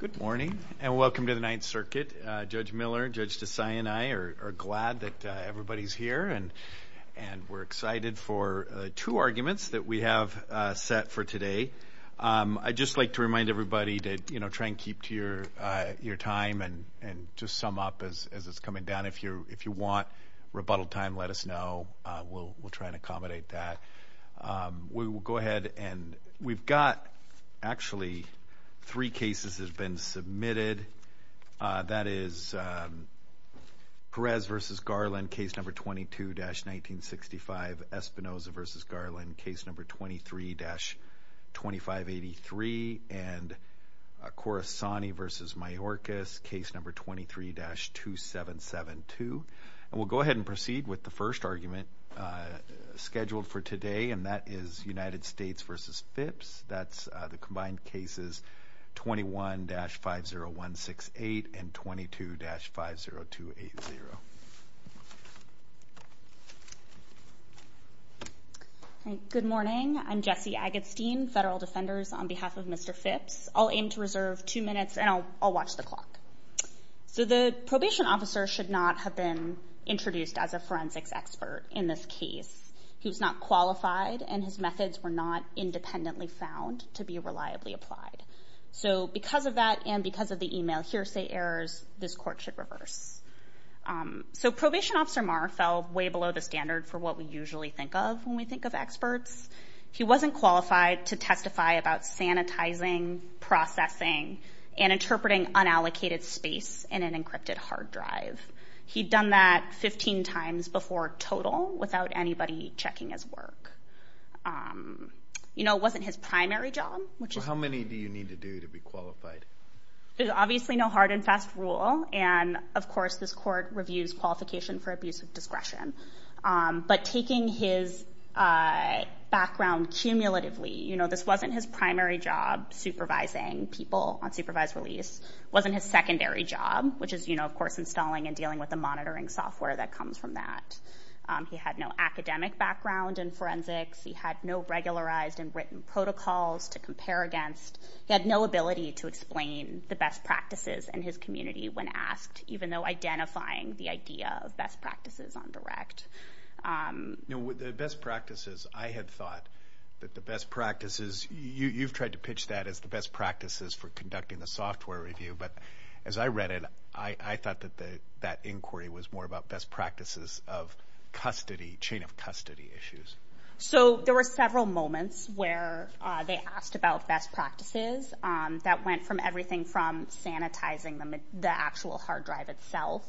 Good morning, and welcome to the Ninth Circuit. Judge Miller, Judge Desai and I are glad that everybody's here and we're excited for two arguments that we have set for today. I'd just like to remind everybody to, you know, try and keep to your time and just sum up as it's coming down. If you want rebuttal time, let us know. We'll try and accommodate that. We will go ahead and we've got actually three cases have been submitted. That is Perez v. Garland, case number 22-1965. Espinoza v. Garland, case number 23-2583. And Corasani v. Mayorkas, case number 23-2772. And we'll go ahead and proceed with the first argument scheduled for today, and that is United States v. Phipps. That's the combined cases 21-50168 and 22-50280. Jesse Agatstein Good morning, I'm Jesse Agatstein, federal defenders on behalf of Mr. Phipps. I'll aim to reserve two minutes and I'll watch the clock. So the probation officer should not have been introduced as a in this case. He was not qualified and his methods were not independently found to be reliably applied. So because of that and because of the email hearsay errors, this court should reverse. So probation officer Marr fell way below the standard for what we usually think of when we think of experts. He wasn't qualified to testify about sanitizing, processing, and interpreting total without anybody checking his work. You know, it wasn't his primary job, which is... So how many do you need to do to be qualified? There's obviously no hard and fast rule, and of course this court reviews qualification for abuse of discretion. But taking his background cumulatively, you know, this wasn't his primary job supervising people on supervised release, wasn't his secondary job, which is, you know, installing and dealing with the monitoring software that comes from that. He had no academic background in forensics. He had no regularized and written protocols to compare against. He had no ability to explain the best practices in his community when asked, even though identifying the idea of best practices on direct. You know, the best practices, I had thought that the best practices, you've tried to pitch that as the best practices for conducting the software review. But as I read it, I thought that that inquiry was more about best practices of custody, chain of custody issues. So there were several moments where they asked about best practices that went from everything from sanitizing the actual hard drive itself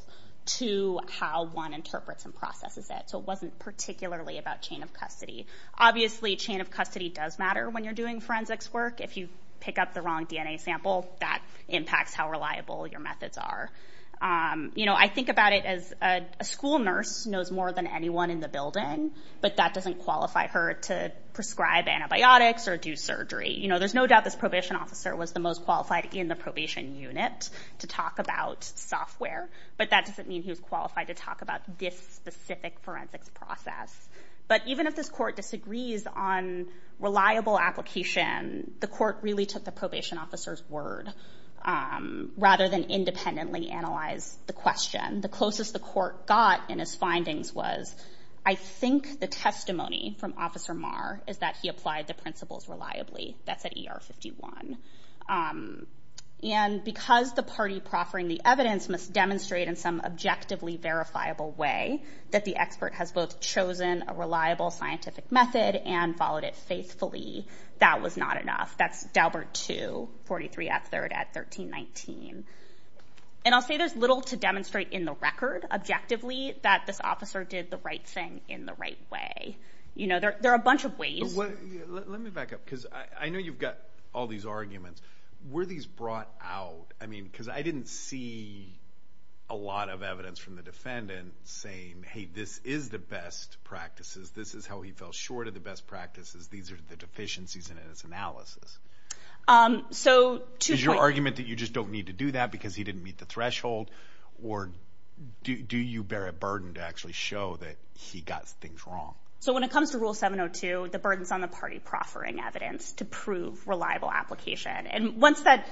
to how one interprets and processes it. So it wasn't particularly about chain of custody. Obviously, chain of custody does matter when you're doing forensics work. If you pick up the wrong DNA sample, that impacts how reliable your methods are. You know, I think about it as a school nurse knows more than anyone in the building, but that doesn't qualify her to prescribe antibiotics or do surgery. You know, there's no doubt this probation officer was the most qualified in the probation unit to talk about software, but that doesn't mean he was qualified to talk about this specific forensics process. But even if this court disagrees on reliable application, the court really took the probation officer's word rather than independently analyze the question. The closest the court got in his findings was, I think the testimony from Officer Marr is that he applied the principles reliably. That's at ER 51. And because the party proffering the evidence must demonstrate in some objectively verifiable way that the expert has both chosen a reliable scientific method and followed it faithfully, that was not enough. That's Daubert 2, 43 at 3rd at 1319. And I'll say there's little to demonstrate in the record, objectively, that this officer did the right thing in the right way. You know, there are a bunch of ways. Let me back up because I know you've got all these arguments. Were these brought out? I mean, because I didn't see a lot of evidence from the defendant saying, hey, this is the best practices. This is how he fell short of the best practices. These are the deficiencies in his analysis. Is your argument that you just don't need to do that because he didn't meet the threshold? Or do you bear a burden to actually show that he got things wrong? So when it comes to Rule 702, the burden's on the party proffering evidence to prove reliable application. And once the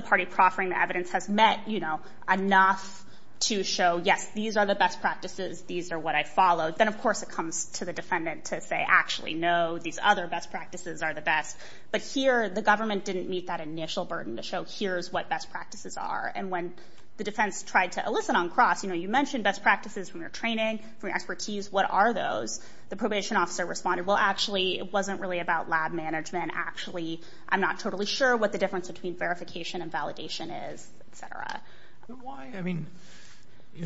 party proffering the evidence has met, you know, enough to show, yes, these are the best practices. These are what I followed. Then, of course, it comes to the defendant to say, actually, no, these other best practices are the best. But here, the government didn't meet that initial burden to show here's what best practices are. And when the defense tried to elicit on cross, you know, you mentioned best practices from your training, from your expertise. What are those? The probation officer responded, well, actually, it wasn't really about lab management. Actually, I'm not totally sure what the difference between verification and validation is, et cetera. Why, I mean,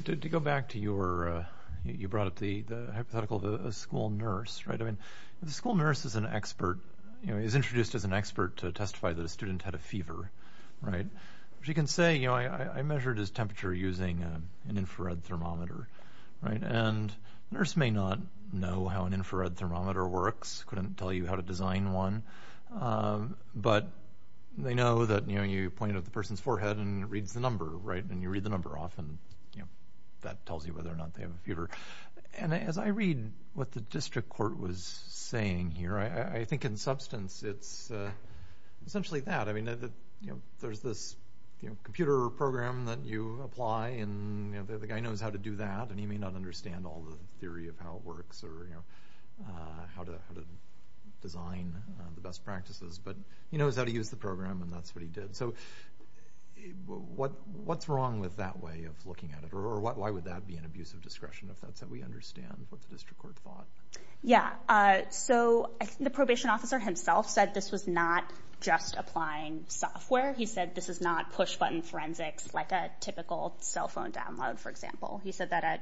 to go back to your, you brought up the hypothetical of a school nurse, right? I mean, the school nurse is an expert, you know, is introduced as an expert to testify that a student had a fever, right? She can say, you know, I measured his temperature using an infrared thermometer, right? And nurse may not know how an infrared thermometer works, couldn't tell you how to design one. But they know that, you know, you point at the person's forehead and it reads the number, right? And you read the number off and, you know, that tells you whether or not they have a fever. And as I read what the district court was saying here, I think in substance, it's essentially that. I mean, you know, there's this, you know, computer program that you apply and, you know, the guy knows how to do that and he may not understand all the theory of how it works or, you know, how to design the best practices, but he knows how to use the program and that's what he did. So what's wrong with that way of looking at it? Or why would that be an abuse of discretion if that's how we understand what the district court thought? Yeah, so I think the probation officer himself said this was not just applying software. He said this is not push-button forensics like a typical cell phone download, for example. He said that at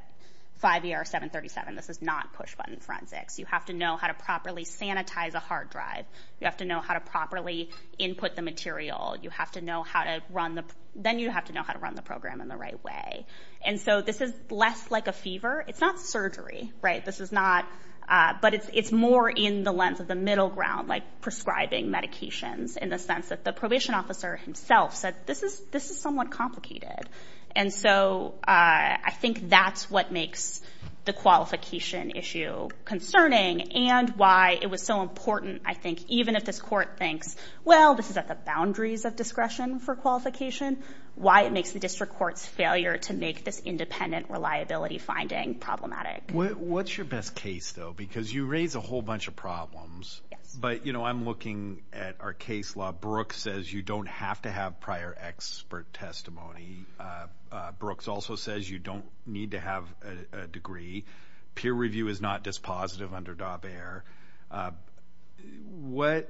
5 ER 737, this is not push-button forensics. You have to know how to properly sanitize a hard drive. You have to know how to properly input the material. You have to know how to run the, then you have to know how to run the program in the right way. And so this is less like a fever. It's not surgery, right? This is not, but it's more in the lens of the middle ground, like prescribing medications in the sense that the probation officer himself said this is somewhat complicated. And so I think that's what makes the qualification issue concerning and why it was so important. I think even if this court thinks, well, this is at the boundaries of discretion for qualification, why it makes the district court's failure to make this independent reliability finding problematic. What's your best case though? Because you raised a whole bunch of problems, but you know, I'm looking at our case law. Brooks says you don't have to have prior expert testimony. Brooks also says you don't need to have a degree. Peer review is not dispositive under Daubert. What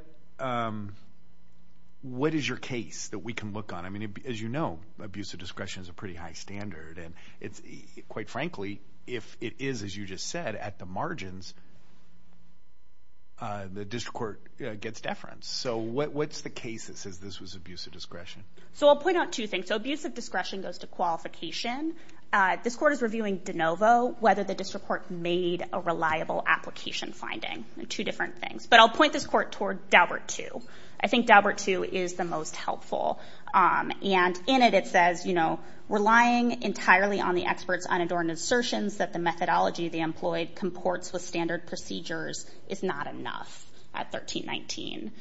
is your case that we can look on? I mean, as you know, abuse of discretion is a pretty high standard and it's quite frankly, if it is, as you just said, at the margins, the district court gets deference. So what's the case that says this was abuse of discretion? So I'll point out two things. So abuse of discretion goes to qualification. This court is reviewing de novo, whether the district court made a reliable application finding. Two different things. But I'll point this court toward Daubert II. I think Daubert II is the most helpful. And in it, it says, you know, relying entirely on the expert's unadorned assertions that the methodology they employed comports with standard procedures is not enough at 1319.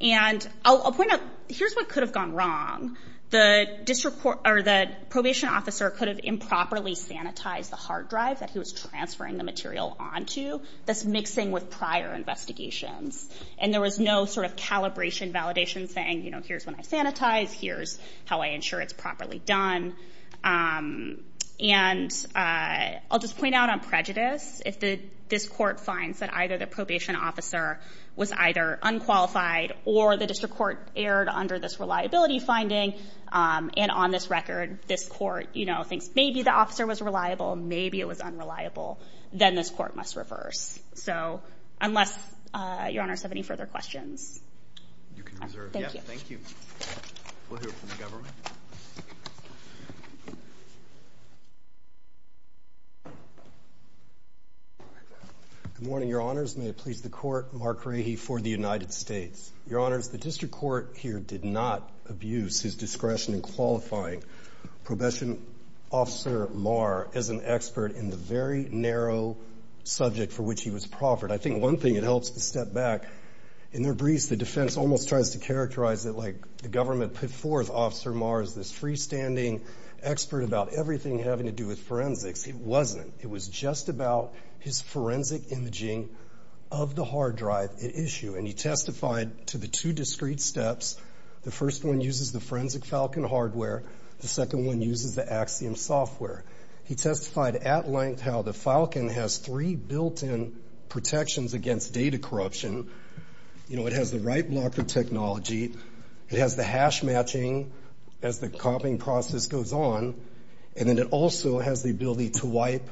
And I'll point out, here's what could have gone wrong. The district court or the probation officer could have improperly sanitized the hard drive that he was transferring the material onto, thus mixing with prior investigations. And there was no sort of calibration validation saying, you know, here's when I sanitize, here's how I ensure it's properly done. And I'll just point out on prejudice, if this court finds that either the probation officer was either unqualified or the district court erred under this reliability finding, and on this record, this court, you know, thinks maybe the officer was reliable, maybe it was unreliable, then this court must reverse. So unless your honors have any further questions. You can reserve. Thank you. We'll hear from the government. Good morning, your honors. May it please the court, Mark Rahe for the United States. Your honors, the district court here did not abuse his discretion in qualifying probation officer Marr as an expert in the very narrow subject for which he was proffered. I think one thing it helps to step back. In their briefs, the defense almost tries to characterize it like the government put forth Officer Marr as this freestanding expert about everything having to do with forensics. It wasn't. It was just about his forensic imaging of the hard drive at issue. And he testified to the two discrete steps. The first one uses the Forensic Falcon hardware. The second one uses the Axiom software. He testified at length how the Falcon has three protections against data corruption. You know, it has the right blocker technology. It has the hash matching as the copying process goes on. And then it also has the ability to wipe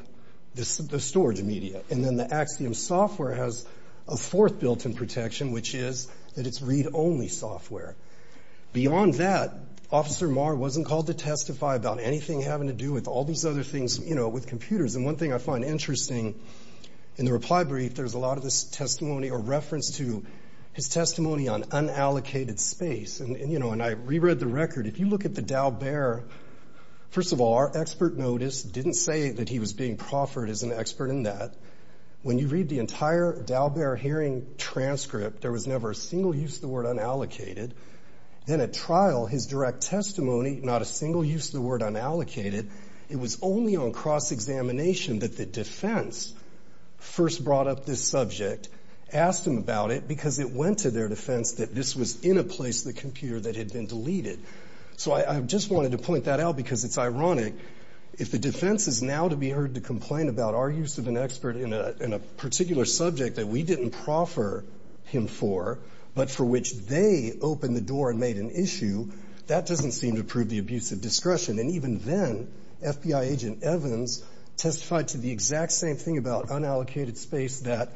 the storage media. And then the Axiom software has a fourth built-in protection, which is that it's read-only software. Beyond that, Officer Marr wasn't called to testify about anything having to do with all these other things, you know, with computers. And one thing I find interesting in the reply brief, there's a lot of this testimony or reference to his testimony on unallocated space. And, you know, and I reread the record. If you look at the Dow Bear, first of all, our expert notice didn't say that he was being proffered as an expert in that. When you read the entire Dow Bear hearing transcript, there was never a single use of the word unallocated. Then at trial, his direct testimony, not a single use of the word unallocated. It was only on cross-examination that the defense first brought up this subject, asked him about it, because it went to their defense that this was in a place, the computer that had been deleted. So I just wanted to point that out because it's ironic. If the defense is now to be heard to complain about our use of an expert in a particular subject that we didn't proffer him for, but for which they opened the door and made an issue, that doesn't seem to prove the abuse of discretion. And even then, FBI agent Evans testified to the exact same thing about unallocated space that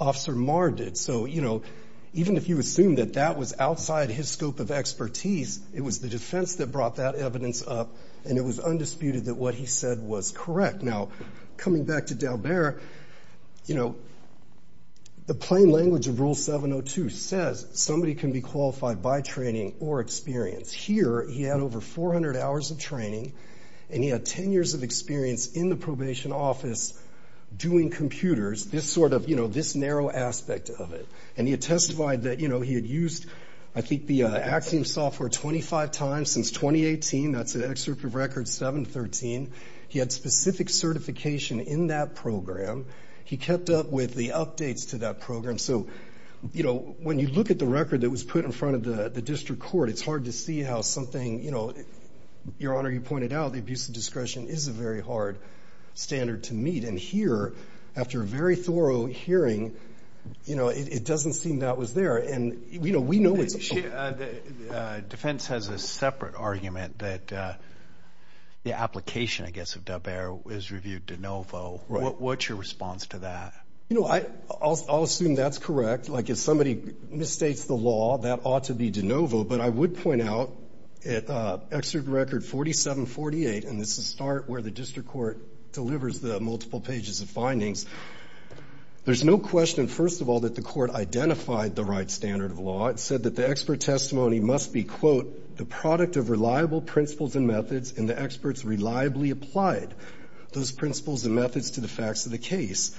Officer Marr did. So, you know, even if you assume that that was outside his scope of expertise, it was the defense that brought that evidence up and it was undisputed that what he said was correct. Now, coming back to Dalbert, you know, the plain language of Rule 702 says somebody can be qualified by training or experience. Here, he had over 400 hours of training and he had 10 years of experience in the probation office doing computers, this sort of, you know, this narrow aspect of it. And he had testified that, you know, he had used, I think, the Axiom software 25 times since 2018. That's an excerpt of record 713. He had specific certification in that program. He kept up with the updates to that program. So, you know, when you look at the record that was put in front of the district court, it's hard to see how something, you know, Your Honor, you pointed out the abuse of discretion is a very hard standard to meet. And here, after a very defense has a separate argument that the application, I guess, of Dalbert was reviewed de novo. What's your response to that? You know, I'll assume that's correct. Like if somebody misstates the law, that ought to be de novo. But I would point out at Excerpt Record 4748, and this is the start where the district court delivers the multiple pages of findings. There's no question, first of all, that the court identified the right standard of law. It said that the expert testimony must be, quote, the product of reliable principles and methods and the experts reliably applied those principles and methods to the facts of the case.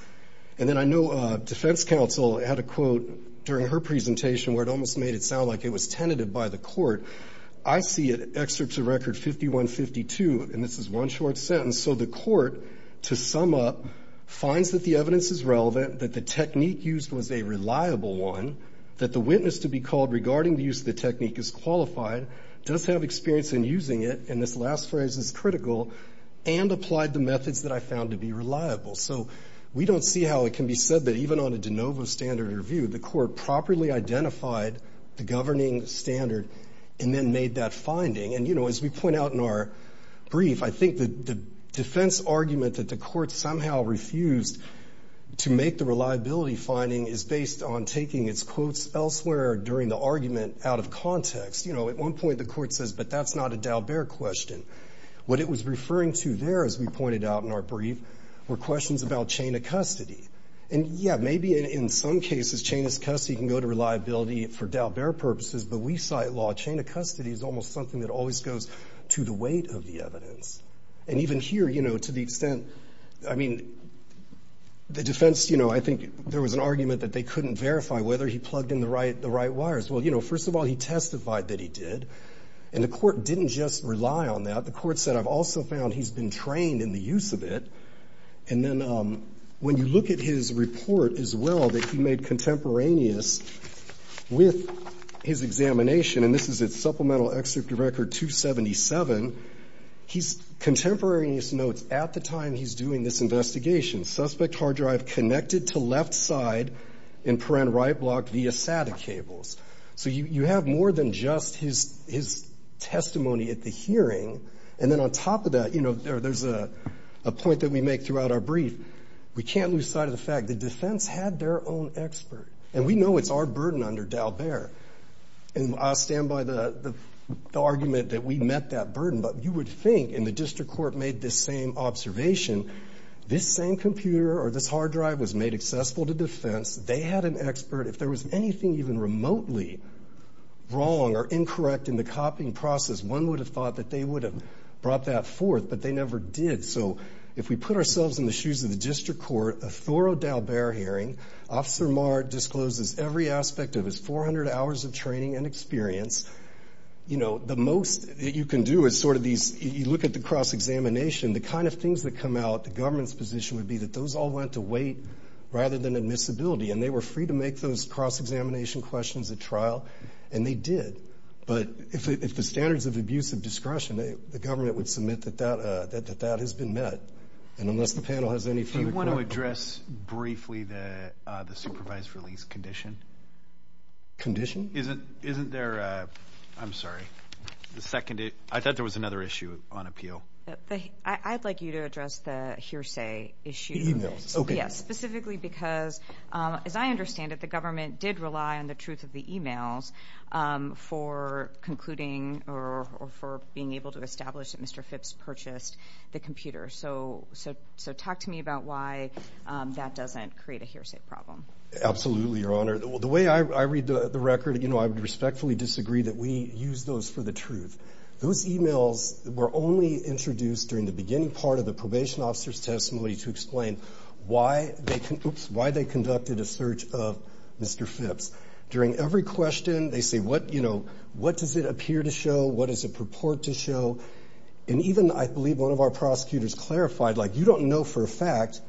And then I know defense counsel had a quote during her presentation where it almost made it sound like it was tentative by the court. I see it, Excerpts of Record 5152. And this is one short sentence. So the court, to sum up, finds that the evidence is relevant, that the technique used was a reliable one, that the witness to be called regarding the use of the technique is qualified, does have experience in using it, and this last phrase is critical, and applied the methods that I found to be reliable. So we don't see how it can be said that even on a de novo standard review, the court properly identified the governing standard and then made that finding. And, you know, as we point out in our brief, I think the defense argument that the court somehow refused to make the reliability finding is based on taking its quotes elsewhere during the argument out of context. You know, at one point the court says, but that's not a Dalbert question. What it was referring to there, as we pointed out in our brief, were questions about chain of custody. And yeah, maybe in some cases chain of custody can go to reliability for Dalbert purposes, but we cite law, chain of custody is almost something that always goes to the weight of the evidence. And even here, you know, to the extent, I mean, the defense, you know, I think there was an argument that they couldn't verify whether he plugged in the right wires. Well, you know, first of all, he testified that he did, and the court didn't just rely on that. The court said, I've also found he's been trained in the use of it. And then when you look at his report as well that he made contemporaneous with his examination, and this is at Supplemental Record 277, he's contemporaneous notes at the time he's doing this investigation, suspect hard drive connected to left side and parent right block via SATA cables. So you have more than just his testimony at the hearing. And then on top of that, you know, there's a point that we make throughout our brief. We can't lose sight of the fact the defense had their own expert. And we know it's our burden under Dalbert. And I'll stand by the argument that we met that burden. But you would think, and the district court made this same observation, this same computer or this hard drive was made accessible to defense. They had an expert. If there was anything even remotely wrong or incorrect in the copying process, one would have thought that they would have brought that forth, but they never did. So if we put ourselves in the shoes of the district court, a thorough Dalbert hearing, Officer Marr discloses every aspect of his 400 hours of training and experience. You know, the most that you can do is sort of these, you look at the cross-examination, the kind of things that come out, the government's position would be that those all went to wait rather than admissibility. And they were free to make those cross-examination questions at trial, and they did. But if the standards of abusive discretion, the government would submit that that has been met. And unless the panel has any further... Do you want to address briefly the supervised release condition? Condition? Isn't there a... I'm sorry. I thought there was another issue on appeal. I'd like you to address the hearsay issue. Okay. Yes, specifically because, as I understand it, the government did rely on the truth of the emails for concluding or for being able to establish that Mr. Phipps purchased the computer. So talk to me about why that doesn't create a hearsay problem. Absolutely, Your Honor. The way I read the record, I would respectfully disagree that we use those for the truth. Those emails were only introduced during the beginning part of the probation officer's testimony to explain why they conducted a search of Mr. Phipps. During every question, they say, what does it appear to show? What does it purport to show? And even, I believe, one of our prosecutors clarified, like, you don't know for a fact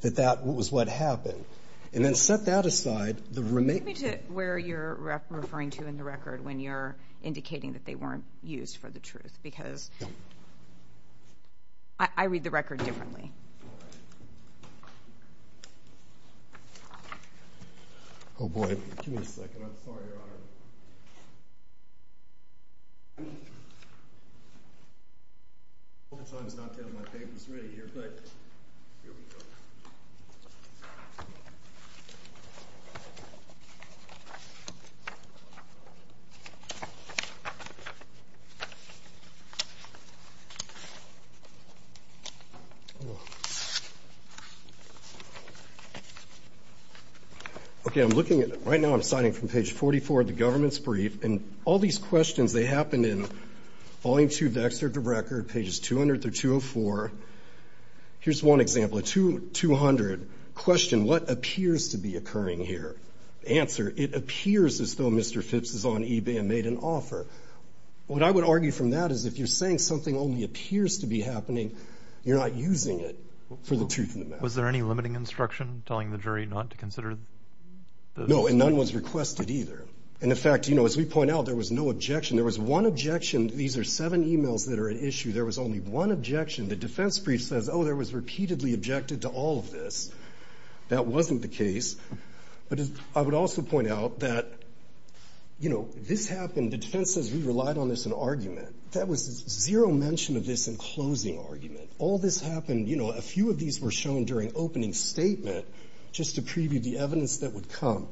that that was what happened. And then set that aside. Take me to where you're referring to in the record when you're indicating that they weren't used for the truth, because I read the record differently. All right. Oh, boy. Give me a second. I'm sorry, Your Honor. A couple times not to have my papers ready here, but here we go. Okay, I'm looking at it. Right now, I'm signing from page 44 of the government's brief. And all these questions, they happened in volume two of the excerpt of the record, pages 200 through 204. Here's one example, at 200, question, what appears to be occurring here? Answer, it appears as though Mr. Phipps is on eBay and made an offer. What I would argue from that is, if you're saying something only appears to be happening, you're not using it. You're not using it. For the truth of the matter. Was there any limiting instruction telling the jury not to consider? No, and none was requested either. And in fact, as we point out, there was no objection. There was one objection. These are seven emails that are at issue. There was only one objection. The defense brief says, oh, there was repeatedly objected to all of this. That wasn't the case. But I would also point out that this happened, the defense says we relied on this in argument. That was zero mention of this in closing argument. All this happened, you know, a few of these were shown during opening statement, just to preview the evidence that would come.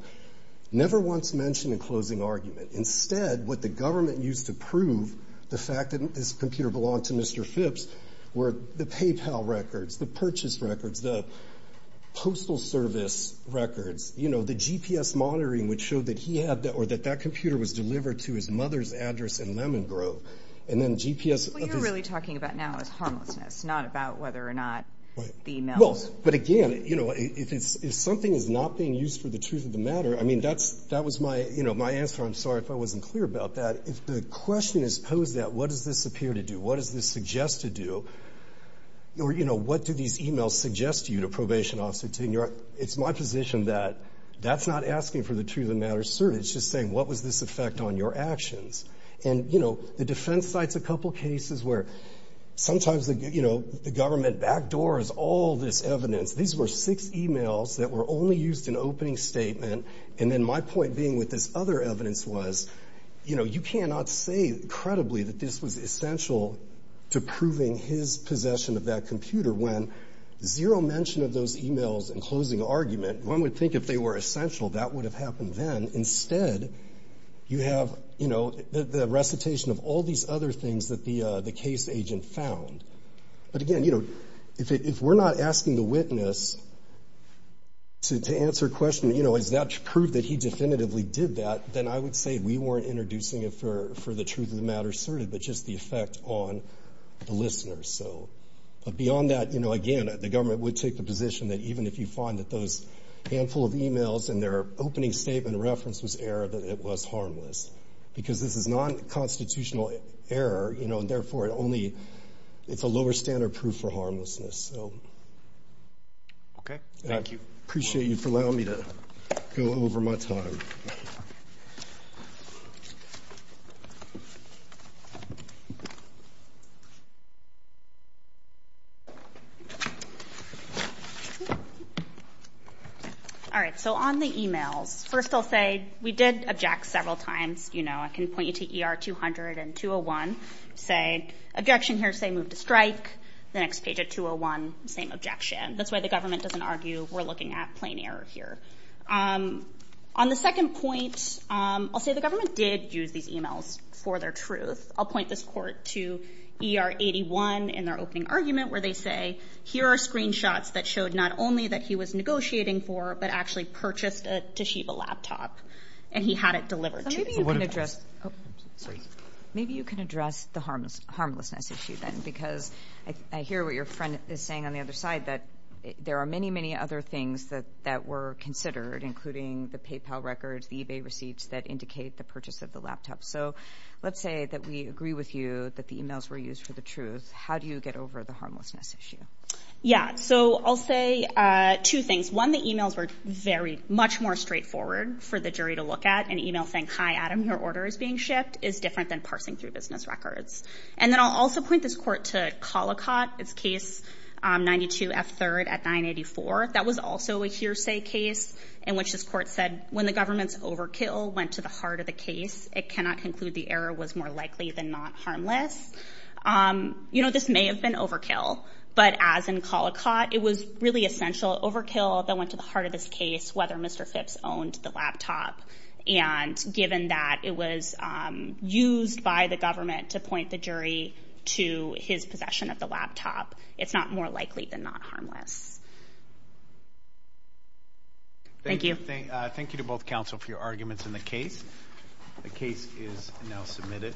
Never once mentioned in closing argument. Instead, what the government used to prove the fact that this computer belonged to Mr. Phipps, were the PayPal records, the purchase records, the postal service records, you know, the GPS monitoring would show that he had that or that that computer was delivered to his mother's address in Lemon Grove. And then GPS. What you're really talking about now is harmlessness, not about whether or not the emails. But again, you know, if it's if something is not being used for the truth of the matter, I mean, that's that was my, you know, my answer. I'm sorry if I wasn't clear about that. If the question is posed that what does this appear to do? What does this suggest to do? Or, you know, what do these emails suggest to you to probation officer tenure? It's my position that that's not asking for the truth of the matter, sir. It's just saying what was this effect on your actions? And, you know, the defense sites, a couple cases where sometimes, you know, the government backdoors all this evidence. These were six emails that were only used in opening statement. And then my point being with this other evidence was, you know, you cannot say credibly that this was essential to proving his possession of that computer when zero mention of those emails and closing argument. One would think if they were essential, that would have happened then. Instead, you have, you know, the recitation of all these other things that the case agent found. But again, you know, if we're not asking the witness to answer a question, you know, is that prove that he definitively did that, then I would say we weren't introducing it for the truth of the matter asserted, but just the effect on the listeners. So but beyond that, you know, again, the government would take the position that even if you find that those handful of emails and their opening statement reference was error, that it was harmless because this is non constitutional error, you know, and therefore it only it's a lower standard proof for harmlessness. So okay. Thank you. Appreciate you allowing me to go over my time. All right. So on the emails, first I'll say we did object several times. You know, I can point you to ER 200 and 201. Say objection here, say move to strike the next page at 201. Same objection. That's why the government doesn't argue we're looking at error here. On the second point, I'll say the government did use these emails for their truth. I'll point this court to ER 81 in their opening argument, where they say here are screenshots that showed not only that he was negotiating for, but actually purchased a Toshiba laptop and he had it delivered. Maybe you can address the harmlessness issue then, because I hear what friend is saying on the other side, that there are many, many other things that were considered, including the PayPal records, the eBay receipts that indicate the purchase of the laptop. So let's say that we agree with you that the emails were used for the truth. How do you get over the harmlessness issue? Yeah. So I'll say two things. One, the emails were very much more straightforward for the jury to look at. An email saying, hi, Adam, your order is being shipped is different than parsing through business records. And then I'll also point this court to Collicott, its case 92 F3rd at 984. That was also a hearsay case in which this court said when the government's overkill went to the heart of the case, it cannot conclude the error was more likely than not harmless. You know, this may have been overkill, but as in Collicott, it was really essential overkill that went to the heart of this case, whether Mr. Phipps owned the laptop. And given that it was used by the government to point the jury to his possession of the laptop, it's not more likely than not harmless. Thank you. Thank you to both counsel for your arguments in the case. The case is now submitted.